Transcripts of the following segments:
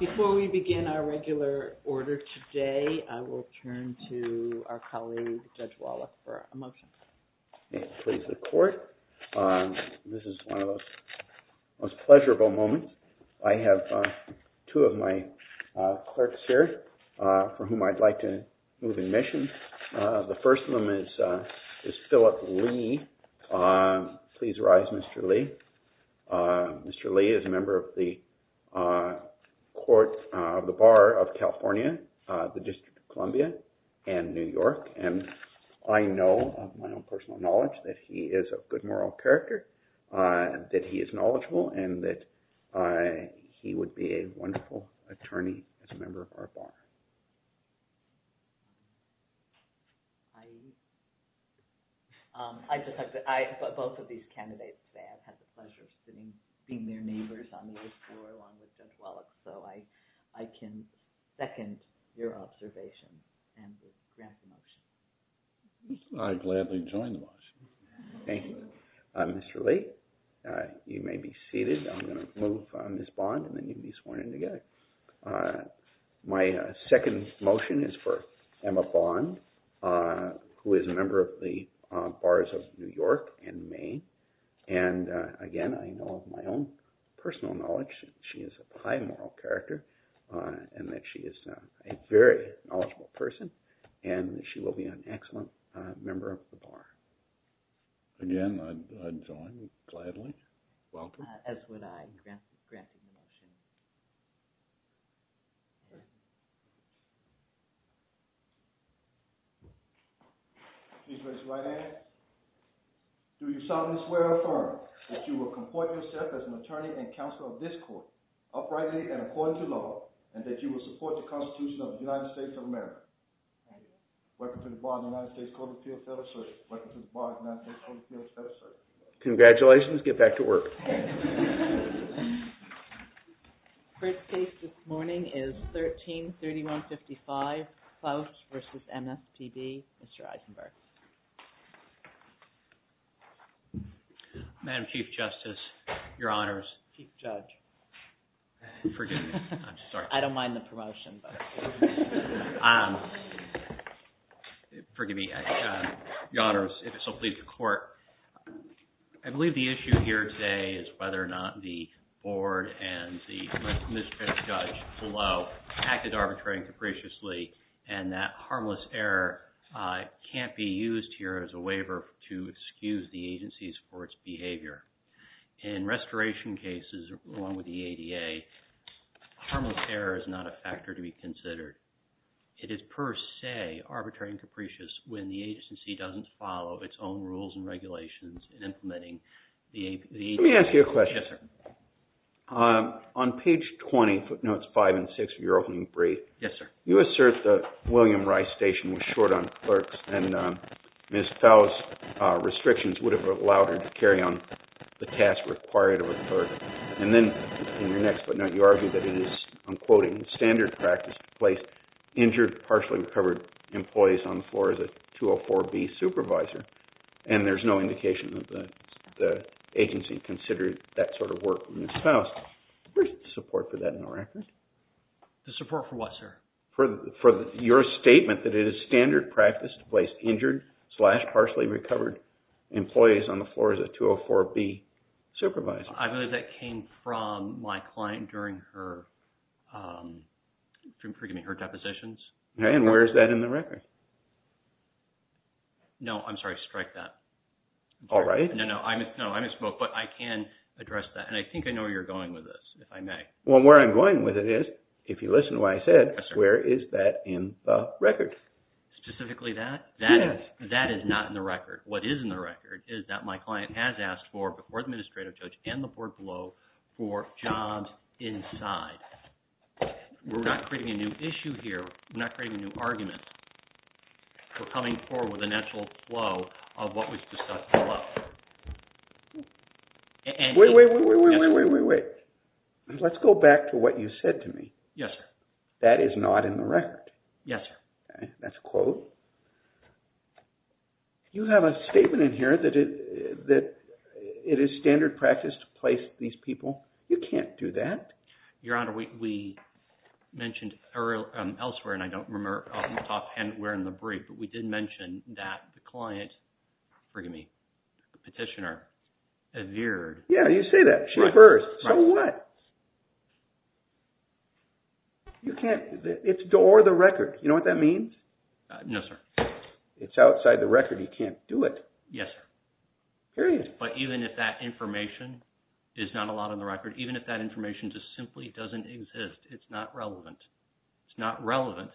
Before we begin our regular order today, I will turn to our colleague, Judge Wallach, for a motion. May it please the court. This is one of those most pleasurable moments. I have two of my clerks here for whom I'd like to move in mission. The first of them is is Phillip Lee. Please rise, Mr. Lee. Mr. Lee is a member of the Bar of California, the District of Columbia, and New York. I know of my own personal knowledge that he is of good moral character, that he is knowledgeable, and that he would be a wonderful attorney as a member of our Bar. Both of these candidates say I've had the pleasure of working with Judge Wallach, so I can second your observation and grant the motion. I gladly join the motion. Thank you. Mr. Lee, you may be seated. I'm going to move Ms. Bond, and then you may be sworn in again. My second motion is for Emma Bond, who is a member of the Bars of New York and Maine. And again, I know of my own personal knowledge that she is of high moral character, and that she is a very knowledgeable person, and that she will be an excellent member of the Bar. Again, I join you gladly. Do you solemnly swear or affirm that you will comport yourself as an attorney and counsel of this court, uprightly and according to law, and that you will support the Constitution of the United States of America? I do. Congratulations. Get back to work. The first case this morning is 133155, Klausch v. Ms. T.D., Mr. Eisenberg. Madam Chief Justice, Your Honors. Please judge, I'm sorry. I don't mind the promotion. Forgive me. Your Honors, if it's okay with the court. I believe the issue here today is whether or not the board and the misdemeanor judge below acted arbitrarily and capriciously, and that harmless error can't be used here as a waiver to excuse the agencies for its behavior. In restoration cases, along with the ADA, harmless error is not a factor to be considered. It is per se arbitrary and capricious when the agency doesn't follow its own rules and regulations in implementing the ADA. Let me ask you a question. On page 20, footnotes 5 and 6 of your opening brief, you assert that William Rice Station was short on clerks and Ms. Faust's restrictions would have allowed her to carry on the task required of a clerk. And then in your next footnote, you argue that it is, I'm quoting, standard practice to place injured, partially recovered employees on the floor as a 204B supervisor, and there's no indication that the agency considered that sort of work from Ms. Faust. Where's the support for that in the record? The support for what, sir? For your statement that it is standard practice to place injured, slash partially recovered employees on the floor as a 204B supervisor. I believe that came from my client during her depositions. And where is that in the record? No, I'm sorry, strike that. All right. No, I misspoke, but I can address that, and I think I know where you're going with this, if I may. Well, where I'm going with it is, if you listen to what I said, where is that in the record? Specifically that? Yes. That is not in the record. What is in the record is that my client has asked for, before the administrative judge and the board below, for jobs inside. We're not creating a new issue here. We're not creating a new argument. We're coming forward with a natural flow of what was discussed below. Wait, wait, wait. Let's go back to what you said to me. Yes, sir. That is not in the record. Yes, sir. That's a quote. You have a statement in here that it is standard practice to place these people. You can't do that. Your Honor, we mentioned elsewhere, and I don't remember off the top of my head where in the brief, but we did mention that the client, forgive me, petitioner, revered. Yeah, you say that. She reversed. So what? You can't. It's or the record. You know what that means? No, sir. It's outside the record. You can't do it. Yes, sir. Here it is. But even if that information is not allowed in the record, even if that information just simply doesn't exist, it's not relevant. It's not relevant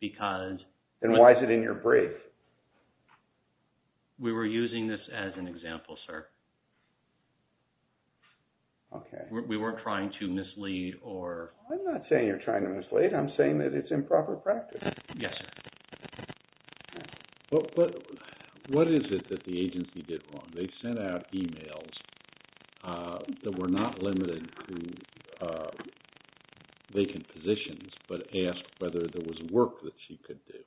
because... Then why is it in your brief? We were using this as an example, sir. Okay. We weren't trying to mislead or... I'm not saying you're trying to mislead. I'm saying that it's improper practice. Yes, sir. But what is it that the agency did wrong? They sent out emails that were not limited to vacant positions, but asked whether there was work that she could do,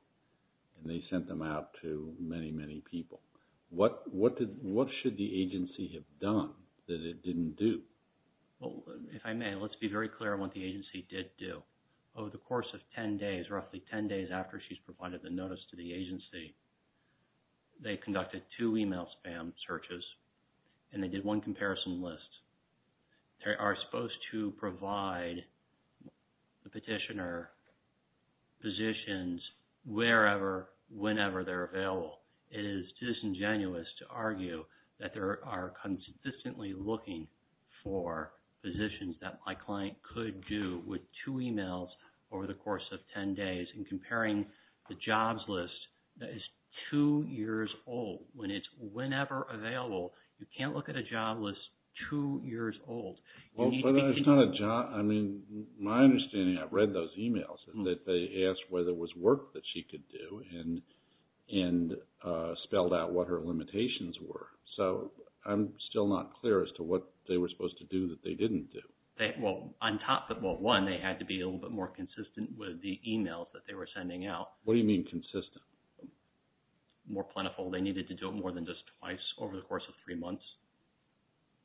and they sent them out to many, many people. What should the agency have done that it didn't do? If I may, let's be very clear on what the agency did do. Over the course of 10 days, roughly 10 days after she's provided the notice to the agency, they conducted two email spam searches, and they did one comparison list. They are supposed to provide the petitioner positions wherever, whenever they're available. It is disingenuous to argue that there are consistently looking for positions that my client could do with two emails over the course of 10 days, and comparing the jobs list that is two years old, when it's whenever available, you can't look at a job list two years old. My understanding, I've read those emails, that they asked whether it was work that she could do, and spelled out what her limitations were. So I'm still not clear as to what they were supposed to do that they didn't do. Well, one, they had to be a little bit more consistent with the emails that they were sending out. What do you mean consistent? More plentiful. They needed to do it more than just twice over the course of three months,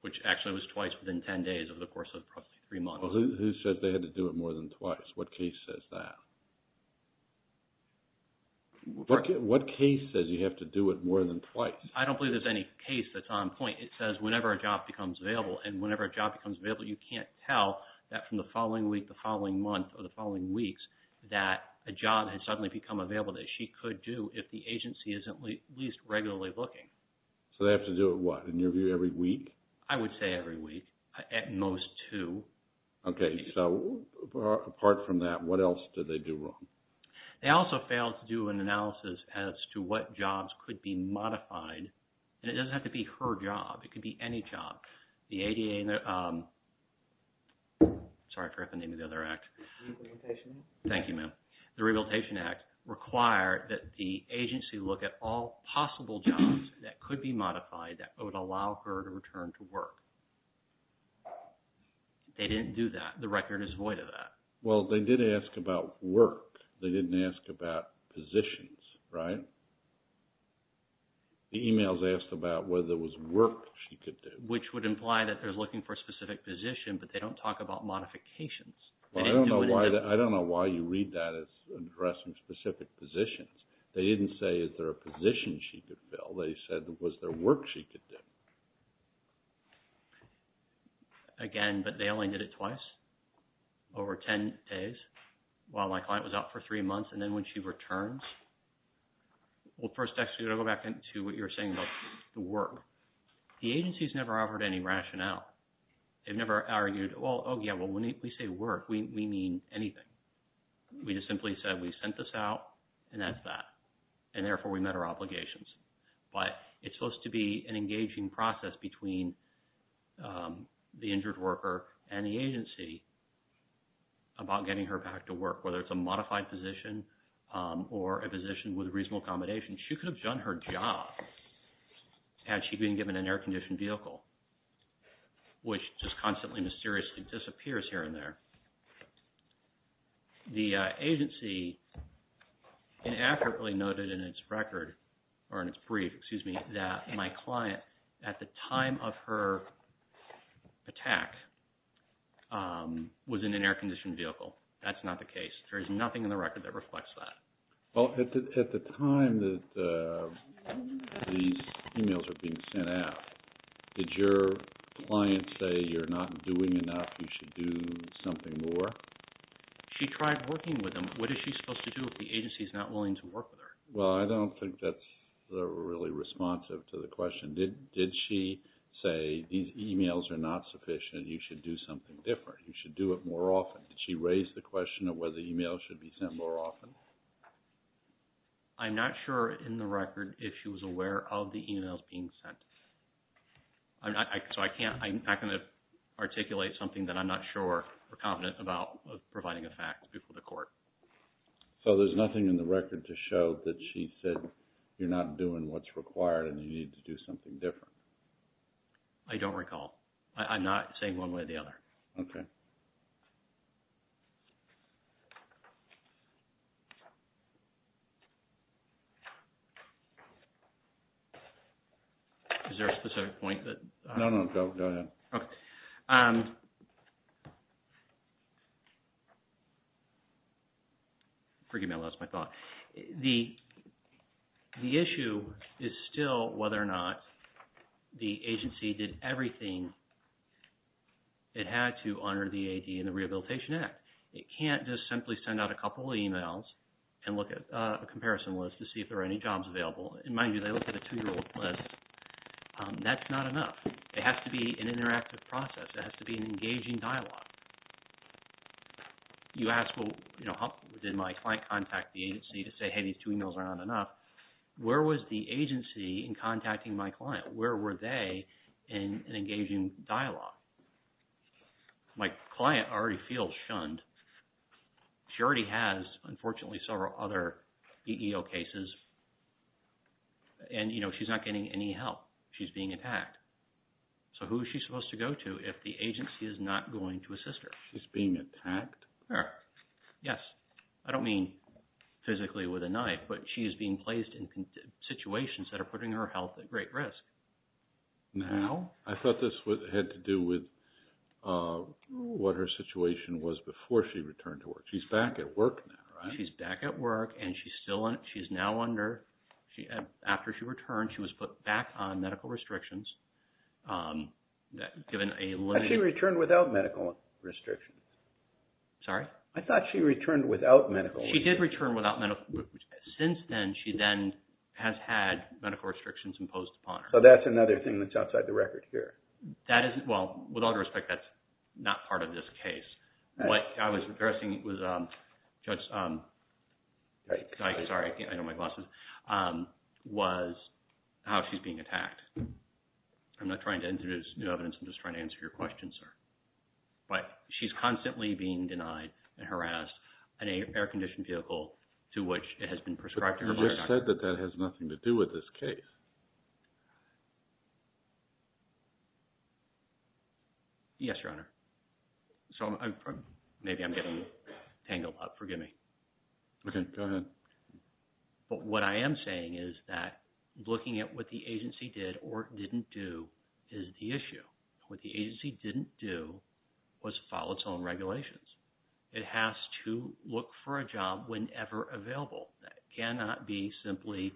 which actually was twice within 10 days over the course of three months. Who said they had to do it more than twice? What case says that? What case says you have to do it more than twice? I don't believe there's any case that's on point. It says whenever a job becomes available, and whenever a job becomes available, you can't tell that from the following week, the following month, or the following weeks, that a job has suddenly become available that she could do if the agency isn't at least regularly looking. So they have to do it, what, in your view, every week? I would say every week, at most two. Okay, so apart from that, what else did they do wrong? They also failed to do an analysis as to what jobs could be modified, and it doesn't have to be her job. It could be any job. The ADA and the – sorry, correct the name of the other act. The Rehabilitation Act. Thank you, ma'am. The Rehabilitation Act required that the agency look at all possible jobs that could be modified that would allow her to return to work. They didn't do that. The record is void of that. Well, they did ask about work. They didn't ask about positions, right? The emails asked about whether it was work she could do. Which would imply that they're looking for a specific position, but they don't talk about modifications. Well, I don't know why you read that as addressing specific positions. They didn't say, is there a position she could fill? They said, was there work she could do? Again, but they only did it twice, over 10 days, while my client was out for three months, and then when she returns. Well, first, actually, I'm going to go back into what you were saying about the work. The agency's never offered any rationale. They've never argued, well, oh, yeah, well, when we say work, we mean anything. We just simply said, we sent this out, and that's that. And therefore, we met our obligations. But it's supposed to be an engaging process between the injured worker and the agency about getting her back to work, whether it's a modified position or a position with reasonable accommodation. She could have done her job had she been given an air-conditioned vehicle, which just constantly and mysteriously disappears here and there. The agency inaccurately noted in its record, or in its brief, excuse me, that my client, at the time of her attack, was in an air-conditioned vehicle. That's not the case. There is nothing in the record that reflects that. Well, at the time that these emails were being sent out, did your client say, you're not doing enough, you should do something more? She tried working with them. What is she supposed to do if the agency is not willing to work with her? Well, I don't think that's really responsive to the question. Did she say, these emails are not sufficient, you should do something different, you should do it more often? Did she raise the question of whether emails should be sent more often? I'm not sure in the record if she was aware of the emails being sent. So I'm not going to articulate something that I'm not sure or confident about providing a fact before the court. So there's nothing in the record to show that she said, you're not doing what's required and you need to do something different? I don't recall. I'm not saying one way or the other. Okay. Is there a specific point that... No, no, go ahead. Okay. Forgive me, I lost my thought. The issue is still whether or not the agency did everything it had to under the AD and the Rehabilitation Act. It can't just simply send out a couple of emails and look at a comparison list to see if there are any jobs available. And mind you, they looked at a two-year-old list. That's not enough. It has to be an interactive process. It has to be an engaging dialogue. You ask, well, did my client contact the agency to say, hey, these two emails are not enough? Where was the agency in contacting my client? Where were they in an engaging dialogue? My client already feels shunned. She already has, unfortunately, several other EEO cases. And, you know, she's not getting any help. She's being attacked. So who is she supposed to go to if the agency is not going to assist her? She's being attacked? Yes. I don't mean physically with a knife, but she is being placed in situations that are putting her health at great risk. Now? I thought this had to do with what her situation was before she returned to work. She's back at work now, right? She's back at work. And she's now under, after she returned, she was put back on medical restrictions, given a limit. Had she returned without medical restrictions? Sorry? I thought she returned without medical restrictions. She did return without medical restrictions. Since then, she then has had medical restrictions imposed upon her. So that's another thing that's outside the record here. Well, with all due respect, that's not part of this case. What I was addressing was, Judge, sorry, I know my glasses, was how she's being attacked. I'm not trying to introduce new evidence. I'm just trying to answer your question, sir. But she's constantly being denied and harassed an air-conditioned vehicle to which it has been prescribed to her by her doctor. But you just said that that has nothing to do with this case. Yes, Your Honor. So maybe I'm getting tangled up. Forgive me. Go ahead. But what I am saying is that looking at what the agency did or didn't do is the issue. What the agency didn't do was follow its own regulations. It has to look for a job whenever available. That cannot be simply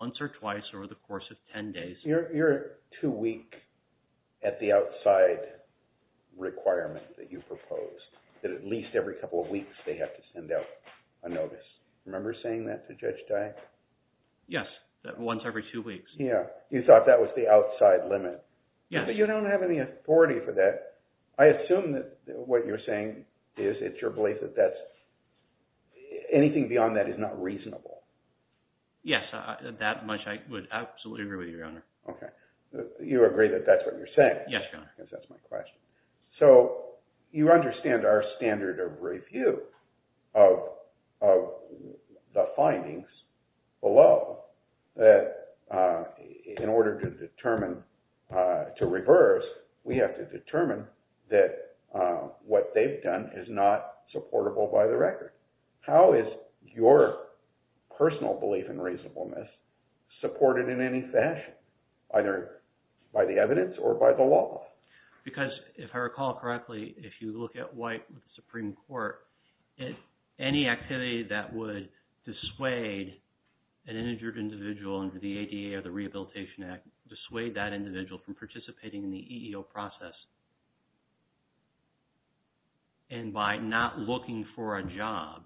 once or twice over the course of 10 days. You're too weak at the outside requirement that you proposed, that at least every couple of weeks they have to send out a notice. Remember saying that to Judge Dyck? Yes. Once every two weeks. Yeah. You thought that was the outside limit. Yes. But you don't have any authority for that. I assume that what you're saying is it's your belief that anything beyond that is not reasonable. Yes, that much I would absolutely agree with you, Your Honor. Okay. You agree that that's what you're saying? Yes, Your Honor. Because that's my question. So you understand our standard of review of the findings below that in order to determine, to reverse, we have to determine that what they've done is not supportable by the record. How is your personal belief in reasonableness supported in any fashion, either by the evidence or by the law? Because if I recall correctly, if you look at White with the Supreme Court, any activity that would dissuade an injured individual under the ADA or the Rehabilitation Act, dissuade that individual from participating in the EEO process. And by not looking for a job,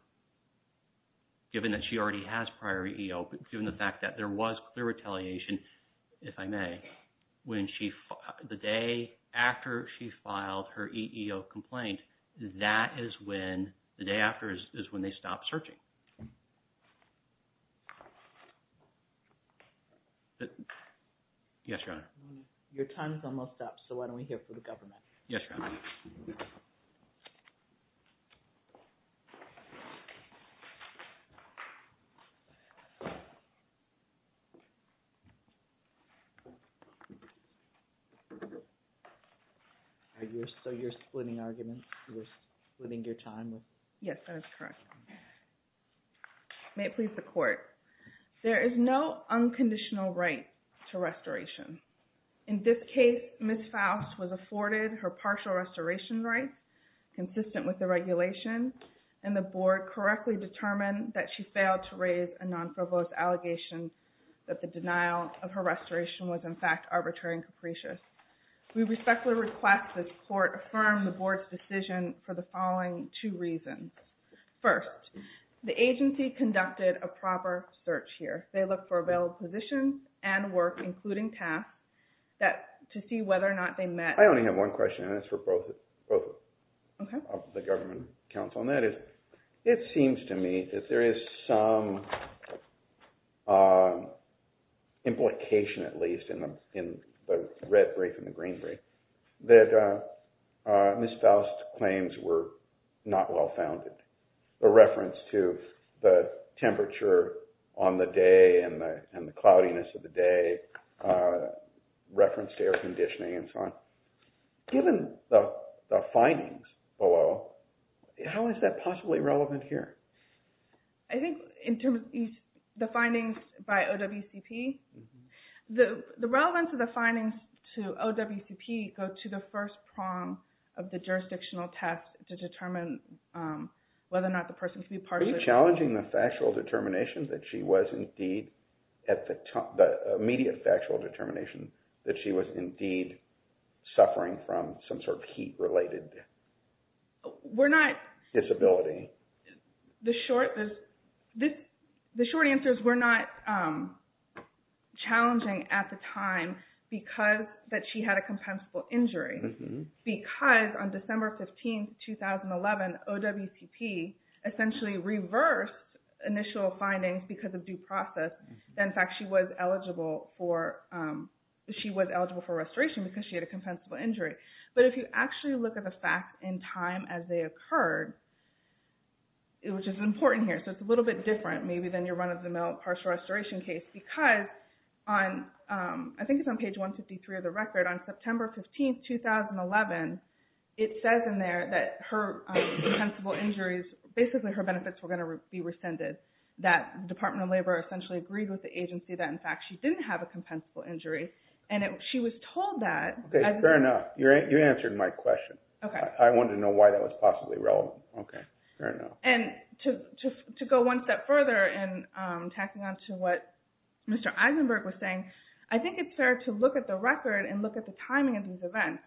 given that she already has prior EEO, given the fact that there was clear retaliation, if I may, when she – the day after she filed her EEO complaint, that is when – the day after is when they stop searching. Yes, Your Honor. Your time is almost up, so why don't we hear from the government? Yes, Your Honor. So you're splitting arguments? You're splitting your time? Yes, that is correct. May it please the Court. There is no unconditional right to restoration. In this case, Ms. Faust was afforded her partial restoration right, consistent with the regulation, and the Board correctly determined that she failed to raise a non-frivolous allegation that the denial of her restoration was, in fact, arbitrary and capricious. We respectfully request that the Court affirm the Board's decision for the following two reasons. First, the agency conducted a proper search here. They looked for available positions and work, including tasks, to see whether or not they met – I only have one question, and it's for both of the government counsel. It seems to me that there is some implication, at least, in the red brief and the green brief, that Ms. Faust's claims were not well-founded. The reference to the temperature on the day and the cloudiness of the day referenced air conditioning and so on. Given the findings below, how is that possibly relevant here? I think in terms of the findings by OWCP, the relevance of the findings to OWCP go to the first prong of the jurisdictional test to determine whether or not the person can be partially restored. Are we challenging the immediate factual determination that she was indeed suffering from some sort of heat-related disability? The short answer is we're not challenging at the time because she had a compensable injury. Because on December 15, 2011, OWCP essentially reversed initial findings because of due process. In fact, she was eligible for restoration because she had a compensable injury. But if you actually look at the facts in time as they occurred, which is important here, so it's a little bit different maybe than your run-of-the-mill partial restoration case, because on – I think it's on page 153 of the record – on September 15, 2011, it says in there that her compensable injuries – basically her benefits were going to be rescinded. That the Department of Labor essentially agreed with the agency that, in fact, she didn't have a compensable injury. And she was told that – Okay, fair enough. You answered my question. I wanted to know why that was possibly relevant. Okay, fair enough. And to go one step further and tacking on to what Mr. Eisenberg was saying, I think it's fair to look at the record and look at the timing of these events.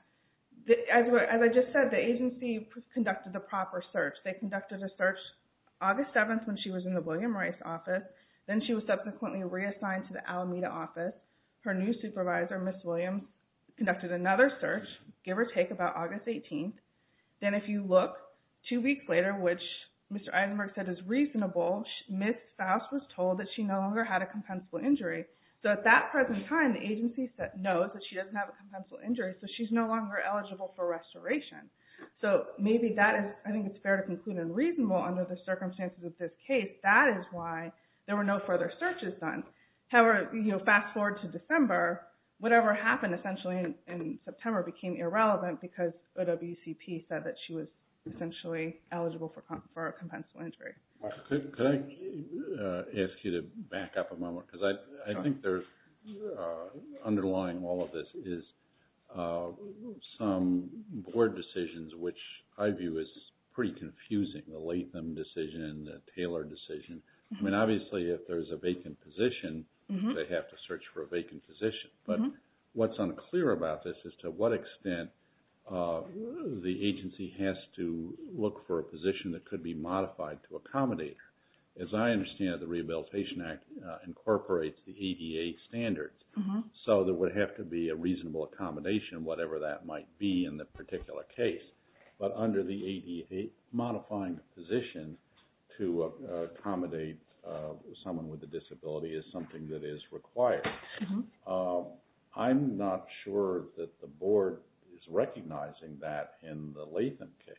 As I just said, the agency conducted the proper search. They conducted a search August 7th when she was in the William Rice office. Then she was subsequently reassigned to the Alameda office. Her new supervisor, Ms. Williams, conducted another search, give or take, about August 18th. Then if you look two weeks later, which Mr. Eisenberg said is reasonable, Ms. Faust was told that she no longer had a compensable injury. So at that present time, the agency knows that she doesn't have a compensable injury, so she's no longer eligible for restoration. So maybe that is – I think it's fair to conclude and reasonable under the circumstances of this case. That is why there were no further searches done. However, fast forward to December, whatever happened essentially in September became irrelevant because OWCP said that she was essentially eligible for a compensable injury. Can I ask you to back up a moment? I think underlying all of this is some board decisions, which I view as pretty confusing. The Latham decision, the Taylor decision. Obviously, if there's a vacant position, they have to search for a vacant position. But what's unclear about this is to what extent the agency has to look for a position that could be modified to accommodate. As I understand it, the Rehabilitation Act incorporates the ADA standards, so there would have to be a reasonable accommodation, whatever that might be in the particular case. But under the ADA, modifying a position to accommodate someone with a disability is something that is required. I'm not sure that the board is recognizing that in the Latham case.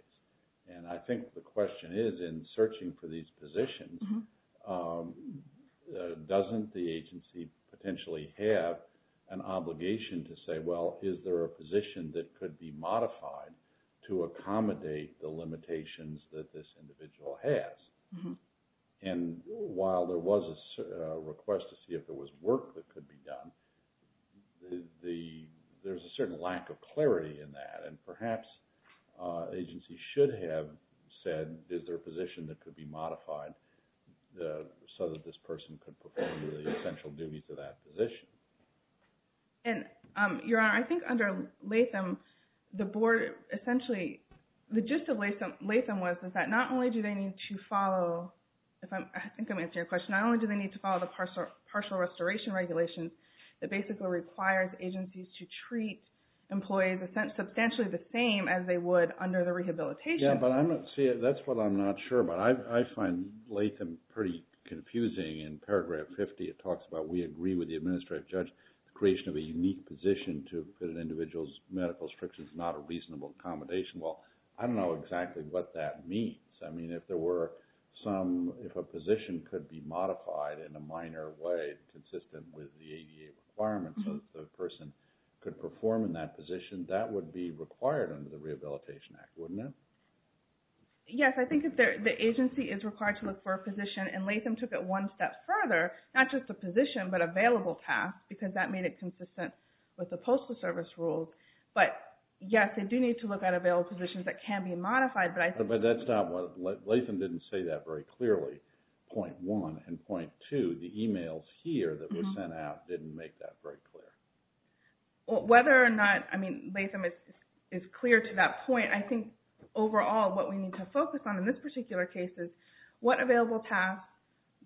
I think the question is in searching for these positions, doesn't the agency potentially have an obligation to say, well, is there a position that could be modified to accommodate the limitations that this individual has? And while there was a request to see if there was work that could be done, there's a certain lack of clarity in that. And perhaps agencies should have said, is there a position that could be modified so that this person could perform the essential duties of that position? Your Honor, I think under Latham, the board essentially, the gist of Latham was that not only do they need to follow, I think I'm answering your question, not only do they need to follow the partial restoration regulations, that basically requires agencies to treat employees substantially the same as they would under the rehabilitation. Yeah, but that's what I'm not sure about. I find Latham pretty confusing. In paragraph 50, it talks about we agree with the administrative judge, the creation of a unique position to fit an individual's medical restrictions is not a reasonable accommodation. Well, I don't know exactly what that means. I mean, if there were some, if a position could be modified in a minor way consistent with the ADA requirements so that the person could perform in that position, that would be required under the Rehabilitation Act, wouldn't it? Yes, I think the agency is required to look for a position, and Latham took it one step further, not just a position, but available tasks, because that made it consistent with the postal service rules. But yes, they do need to look at available positions that can be modified, but I think- But that's not what, Latham didn't say that very clearly, point one, and point two, the emails here that were sent out didn't make that very clear. Well, whether or not, I mean, Latham is clear to that point. I think overall what we need to focus on in this particular case is what available tasks,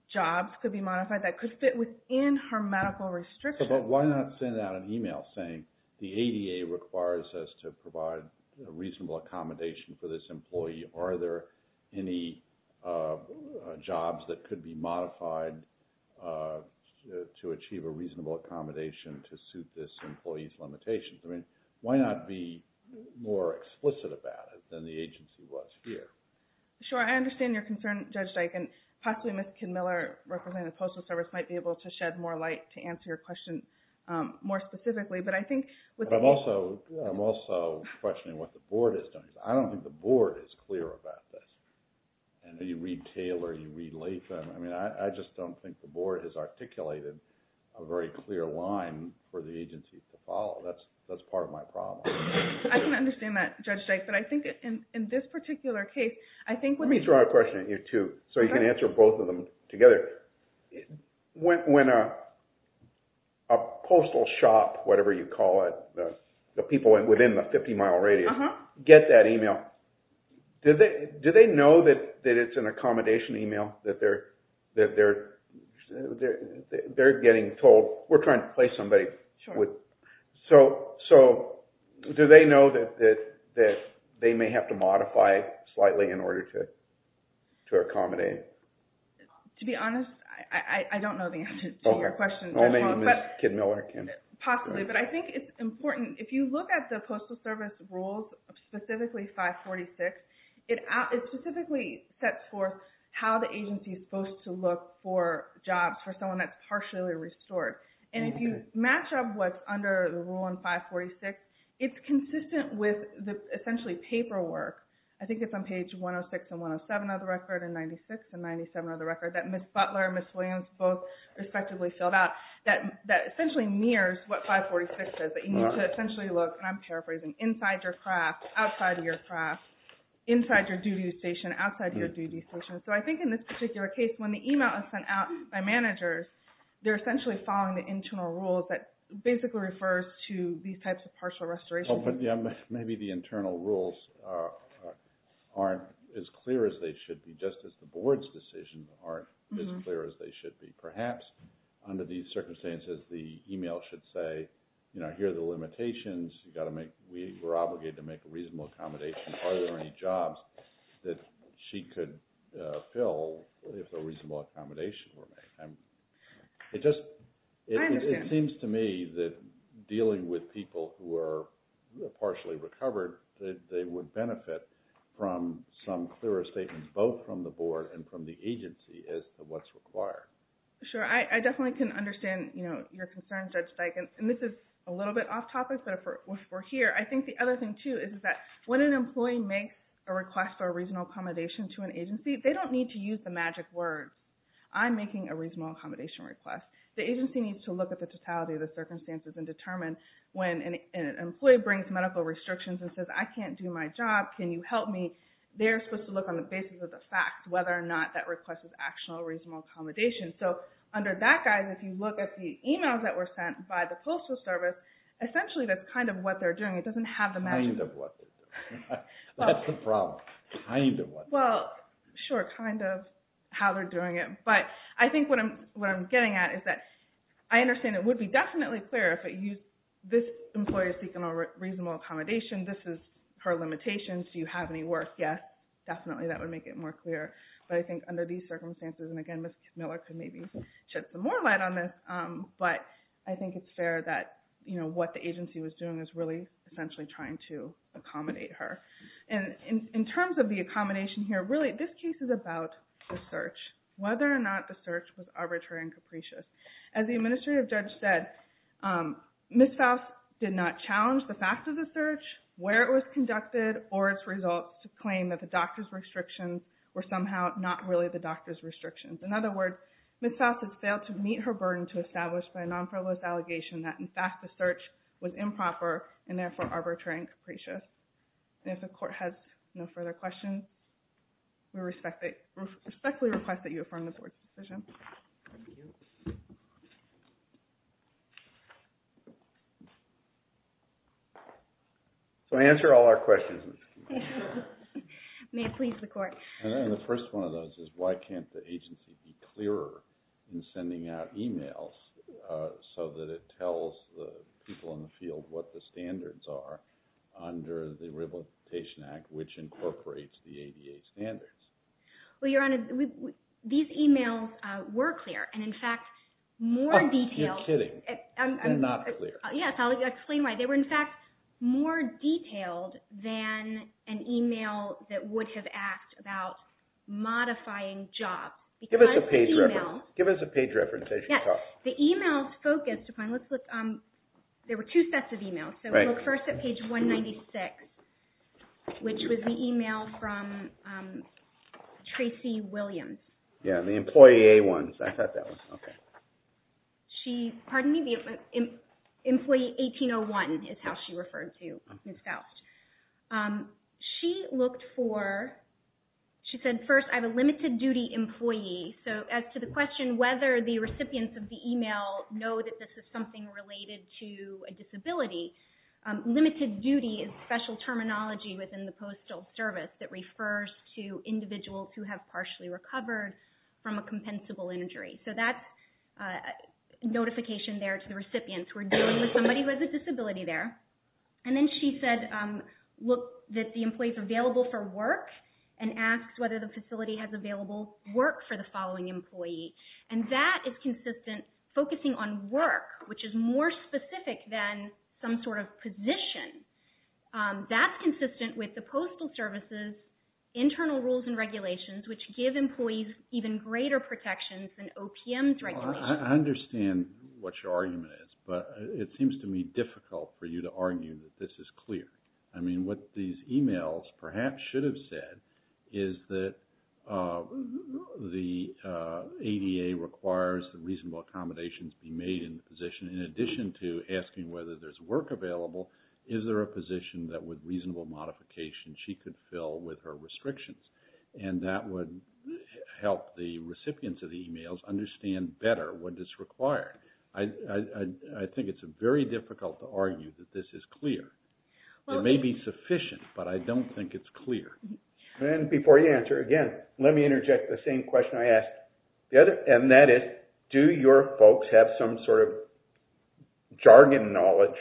jobs could be modified that could fit within her medical restrictions. Yes, but why not send out an email saying the ADA requires us to provide reasonable accommodation for this employee? Are there any jobs that could be modified to achieve a reasonable accommodation to suit this employee's limitations? I mean, why not be more explicit about it than the agency was here? Sure, I understand your concern, Judge Dyke, and possibly Ms. Kinmiller, representing the Postal Service, might be able to shed more light to answer your question more specifically, but I think- But I'm also questioning what the Board is doing. I don't think the Board is clear about this. I know you read Taylor, you read Latham. I mean, I just don't think the Board has articulated a very clear line for the agency to follow. That's part of my problem. I can understand that, Judge Dyke, but I think in this particular case, I think- Let me throw out a question at you, too, so you can answer both of them together. When a postal shop, whatever you call it, the people within the 50-mile radius get that email, do they know that it's an accommodation email, that they're getting told, we're trying to place somebody? Sure. So do they know that they may have to modify slightly in order to accommodate? To be honest, I don't know the answer to your question. Or maybe Ms. Kinmiller can. Possibly, but I think it's important. If you look at the Postal Service rules, specifically 546, it specifically sets forth how the agency's supposed to look for jobs for someone that's partially restored. And if you match up what's under the rule in 546, it's consistent with essentially paperwork. I think it's on page 106 and 107 of the record, and 96 and 97 of the record, that Ms. Butler and Ms. Williams both respectively filled out, that essentially mirrors what 546 says. But you need to essentially look, and I'm paraphrasing, inside your craft, outside of your craft, inside your duty station, outside of your duty station. So I think in this particular case, when the email is sent out by managers, they're essentially following the internal rules that basically refers to these types of partial restorations. But maybe the internal rules aren't as clear as they should be, just as the board's decisions aren't as clear as they should be. Perhaps under these circumstances, the email should say, here are the limitations, we were obligated to make a reasonable accommodation, are there any jobs that she could fill if a reasonable accommodation were made? It seems to me that dealing with people who are partially recovered, they would benefit from some clearer statements, both from the board and from the agency, as to what's required. Sure, I definitely can understand, you know, your concern, Judge Steichen, and this is a little bit off topic, but if we're here, I think the other thing, too, is that when an employee makes a request for a reasonable accommodation to an agency, they don't need to use the magic words. I'm making a reasonable accommodation request. The agency needs to look at the totality of the circumstances and determine when an employee brings medical restrictions and says, I can't do my job, can you help me? They're supposed to look on the basis of the facts, whether or not that request is actual reasonable accommodation. So under that guise, if you look at the emails that were sent by the Postal Service, essentially that's kind of what they're doing. It doesn't have the magic words. Kind of what they're doing. That's the problem. Kind of what they're doing. Well, sure, kind of how they're doing it. But I think what I'm getting at is that I understand it would be definitely clearer if this employee is seeking a reasonable accommodation, this is her limitations, do you have any work? Yes, definitely that would make it more clear. But I think under these circumstances, and again, Ms. Miller could maybe shed some more light on this, but I think it's fair that what the agency was doing was really essentially trying to accommodate her. And in terms of the accommodation here, really this case is about the search. Whether or not the search was arbitrary and capricious. As the administrative judge said, Ms. Faust did not challenge the fact of the search, where it was conducted, or its results to claim that the doctor's restrictions were somehow not really the doctor's restrictions. In other words, Ms. Faust has failed to meet her burden to establish by a non-frivolous allegation that in fact the search was improper and therefore arbitrary and capricious. And if the court has no further questions, we respectfully request that you affirm the board's decision. So I answer all our questions. May it please the court. And the first one of those is why can't the agency be clearer in sending out emails so that it tells the people in the field what the standards are under the Rehabilitation Act, which incorporates the ADA standards? Well, Your Honor, these emails were clear and in fact more detailed. You're kidding. They're not clear. Yes, I'll explain why. They were in fact more detailed than an email that would have asked about modifying jobs. Give us a page reference. Yes, the emails focused upon, let's look, there were two sets of emails. So we'll look first at page 196, which was the email from Tracy Williams. Yeah, the employee A1. I thought that was, okay. She, pardon me, the employee 1801 is how she referred to Ms. Faust. She looked for, she said, first, I have a limited duty employee. So as to the question whether the recipients of the email know that this is something related to a disability, limited duty is special terminology within the Postal Service that refers to individuals who have partially recovered from a compensable injury. So that's a notification there to the recipients. We're dealing with somebody who has a disability there. And then she said, look, that the employee is available for work and asked whether the facility has available work for the following employee. And that is consistent, focusing on work, which is more specific than some sort of position. That's consistent with the Postal Service's internal rules and regulations, which give employees even greater protections than OPM's regulations. I understand what your argument is, but it seems to me difficult for you to argue that this is clear. I mean, what these emails perhaps should have said is that the ADA requires that reasonable accommodations be made in the position. In addition to asking whether there's work available, is there a position that with reasonable modification she could fill with her restrictions? And that would help the recipients of the emails understand better what is required. I think it's very difficult to argue that this is clear. It may be sufficient, but I don't think it's clear. And before you answer, again, let me interject the same question I asked. And that is, do your folks have some sort of jargon knowledge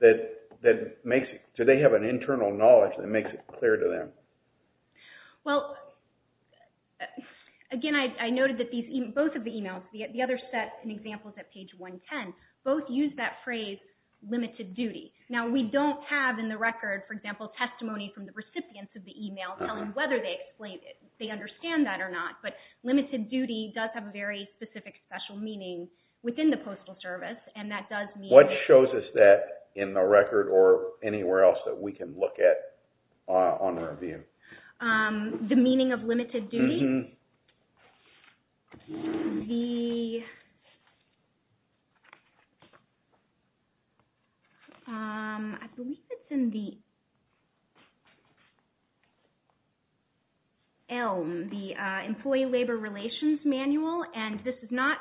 that makes – do they have an internal knowledge that makes it clear to them? Well, again, I noted that both of the emails, the other set and examples at page 110, both use that phrase, limited duty. Now, we don't have in the record, for example, testimony from the recipients of the email telling whether they understand that or not. But limited duty does have a very specific special meaning within the Postal Service, and that does mean – What shows us that in the record or anywhere else that we can look at on review? The meaning of limited duty. The – I believe it's in the ELM, the Employee Labor Relations Manual. And this is not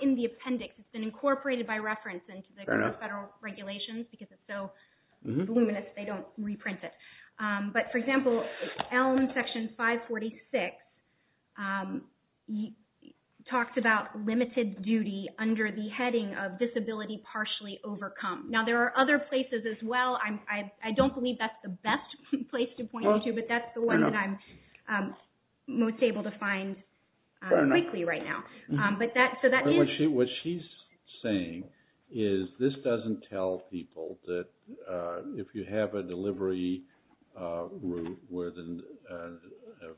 in the appendix. It's been incorporated by reference into the federal regulations because it's so voluminous they don't reprint it. But, for example, ELM section 546 talks about limited duty under the heading of disability partially overcome. Now, there are other places as well. I don't believe that's the best place to point you to, but that's the one that I'm most able to find quickly right now. What she's saying is this doesn't tell people that if you have a delivery with a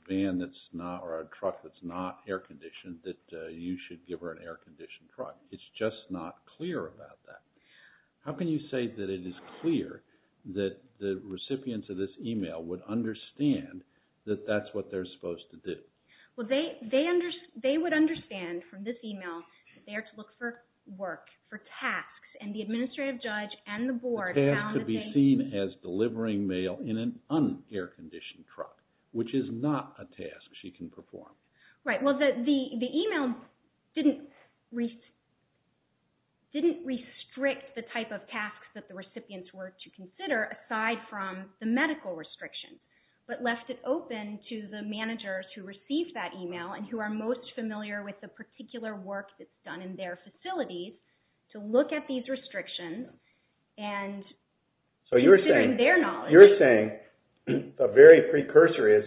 van that's not – or a truck that's not air conditioned, that you should give her an air conditioned truck. It's just not clear about that. How can you say that it is clear that the recipients of this email would understand that that's what they're supposed to do? Well, they would understand from this email that they are to look for work, for tasks. And the administrative judge and the board found that they – A task to be seen as delivering mail in an un-air conditioned truck, which is not a task she can perform. Right. Well, the email didn't restrict the type of tasks that the recipients were to consider aside from the medical restrictions, but left it open to the managers who received that email and who are most familiar with the particular work that's done in their facilities to look at these restrictions and considering their knowledge. You're saying the very precursor is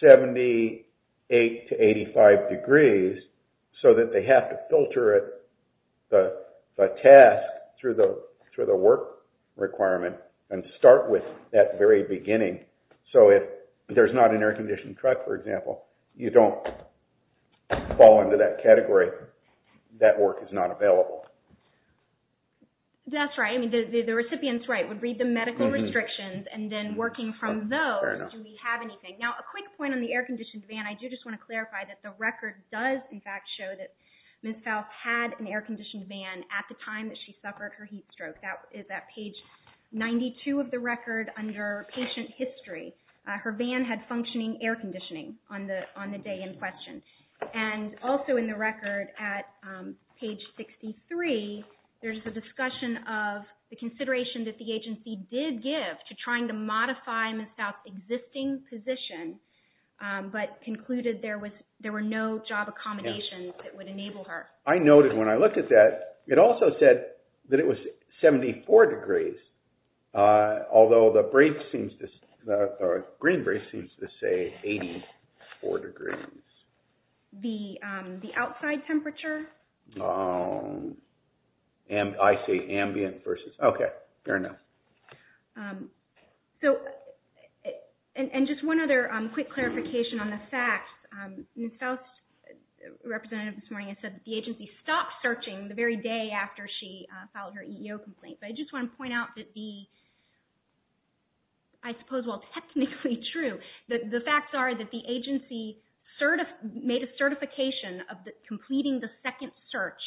78 to 85 degrees so that they have to filter the task through the work requirement and start with that very beginning. So if there's not an air conditioned truck, for example, you don't fall into that category. That work is not available. That's right. I mean, the recipient's right. It would read the medical restrictions and then working from those, do we have anything? Fair enough. Now, a quick point on the air conditioned van. I do just want to clarify that the record does, in fact, show that Ms. Faust had an air conditioned van at the time that she suffered her heat stroke. That is at page 92 of the record under patient history. Her van had functioning air conditioning on the day in question. Also in the record at page 63, there's a discussion of the consideration that the agency did give to trying to modify Ms. Faust's existing position but concluded there were no job accommodations that would enable her. I noted when I looked at that, it also said that it was 74 degrees, although the green break seems to say 84 degrees. The outside temperature? I say ambient versus ambient. Okay, fair enough. And just one other quick clarification on the facts. Ms. Faust's representative this morning had said that the agency stopped searching the very day after she filed her EEO complaint. But I just want to point out that the, I suppose while technically true, the facts are that the agency made a certification of completing the second search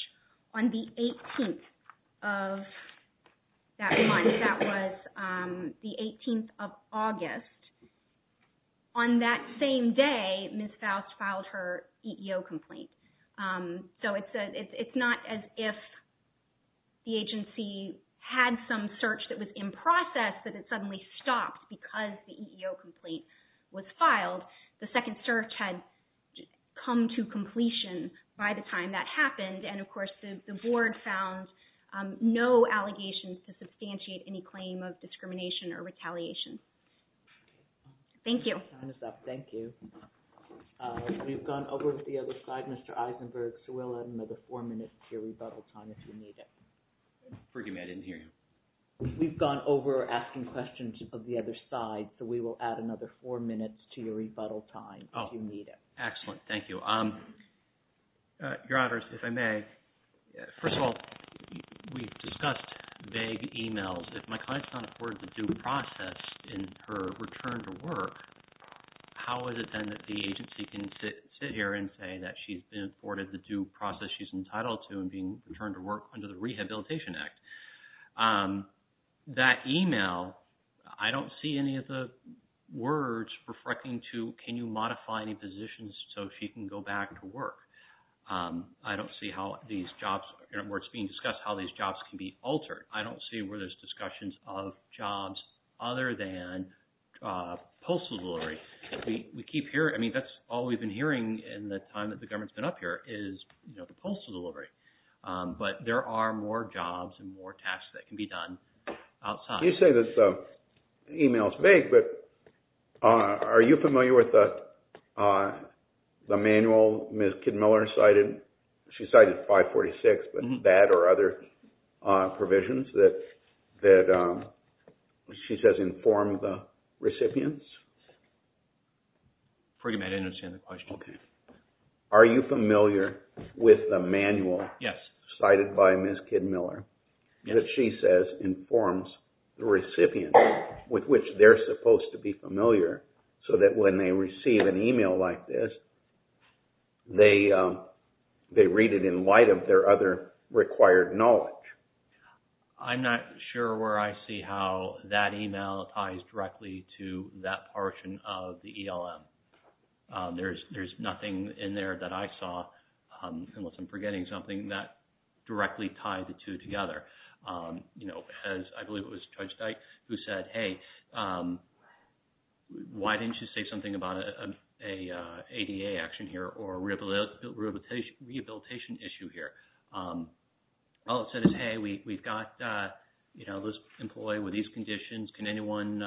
on the 18th of that month. That was the 18th of August. On that same day, Ms. Faust filed her EEO complaint. So it's not as if the agency had some search that was in process, but it suddenly stopped because the EEO complaint was filed. The second search had come to completion by the time that happened, and of course the board found no allegations to substantiate any claim of discrimination or retaliation. Thank you. Time is up. Thank you. We've gone over to the other side, Mr. Eisenberg, so we'll add another four minutes to your rebuttal time if you need it. Forgive me, I didn't hear you. We've gone over asking questions of the other side, so we will add another four minutes to your rebuttal time if you need it. Excellent, thank you. Your Honors, if I may, first of all, we've discussed vague emails. If my client is not afforded the due process in her return to work, how is it then that the agency can sit here and say that she's been afforded the due process she's entitled to and being returned to work under the Rehabilitation Act? That email, I don't see any of the words reflecting to, can you modify any positions so she can go back to work? I don't see how these jobs, where it's being discussed, how these jobs can be altered. I don't see where there's discussions of jobs other than postal delivery. We keep hearing, I mean, that's all we've been hearing in the time that the government's been up here is, you know, the postal delivery. But there are more jobs and more tasks that can be done outside. You say this email's vague, but are you familiar with the manual Ms. Kidd-Miller cited? She cited 546, but that or other provisions that she says inform the recipients? Pretty much, I didn't understand the question. Are you familiar with the manual cited by Ms. Kidd-Miller that she says informs the recipients with which they're supposed to be familiar so that when they receive an email like this, they read it in light of their other required knowledge? I'm not sure where I see how that email ties directly to that portion of the ELM. There's nothing in there that I saw, unless I'm forgetting something, that directly tied the two together. I believe it was Judge Dyke who said, hey, why didn't you say something about an ADA action here or a rehabilitation issue here? All it said is, hey, we've got this employee with these conditions. Can anyone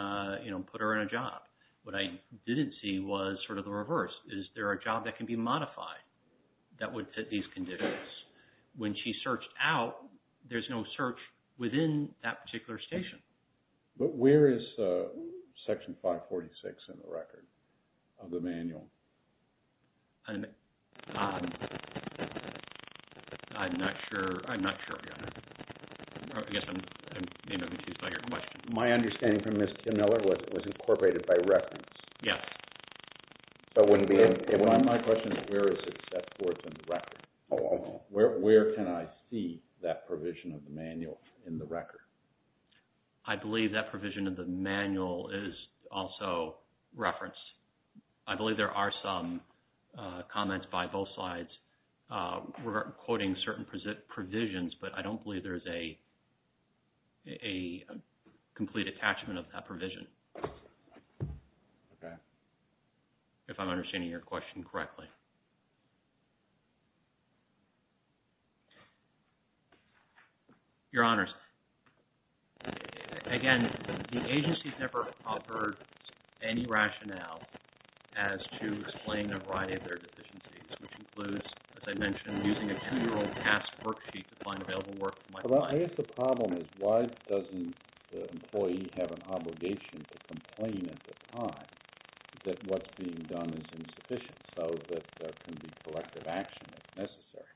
put her in a job? What I didn't see was sort of the reverse. Is there a job that can be modified that would fit these conditions? When she searched out, there's no search within that particular station. But where is Section 546 in the record of the manual? I'm not sure yet. I guess I'm confused by your question. My understanding from Ms. Kim Miller was it was incorporated by reference. Yes. My question is, where is it set forth in the record? Where can I see that provision of the manual in the record? I believe that provision of the manual is also reference. I believe there are some comments by both sides. We're quoting certain provisions, but I don't believe there is a complete attachment of that provision. Okay. If I'm understanding your question correctly. Your Honors, again, the agency's never offered any rationale as to explain a variety of their deficiencies, which includes, as I mentioned, using a two-year-old task worksheet to find available work for my client. I guess the problem is why doesn't the employee have an obligation to complain at the time that what's being done is insufficient so that there can be collective action if necessary?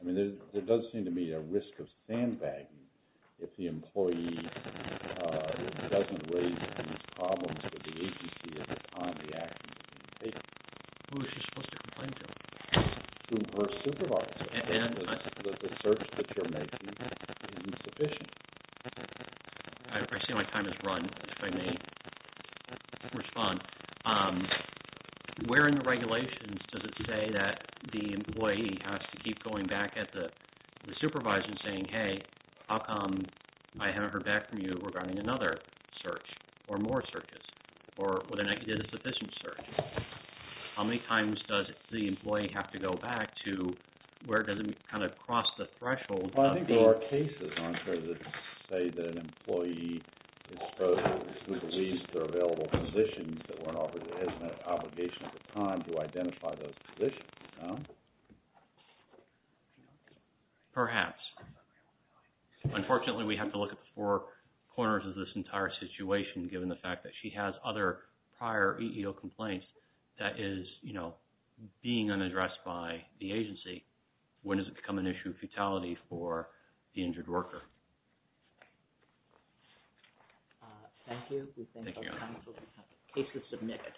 I mean, there does seem to be a risk of sandbagging if the employee doesn't raise these problems with the agency at the time the action is being taken. Who is she supposed to complain to? Her supervisor. The search that you're making is insufficient. I see my time has run. If I may respond, where in the regulations does it say that the employee has to keep going back at the supervisor and saying, hey, how come I haven't heard back from you regarding another search or more searches or with an insufficient search? How many times does the employee have to go back to where does it kind of cross the threshold? Well, I think there are cases, I'm sure, that say that an employee is supposed to release their available positions that weren't offered as an obligation at the time to identify those positions. Perhaps. Unfortunately, we have to look at the four corners of this entire situation given the fact that she has other prior EEO complaints that is being unaddressed by the agency. When does it become an issue of futility for the injured worker? Thank you. Thank you. Cases submitted.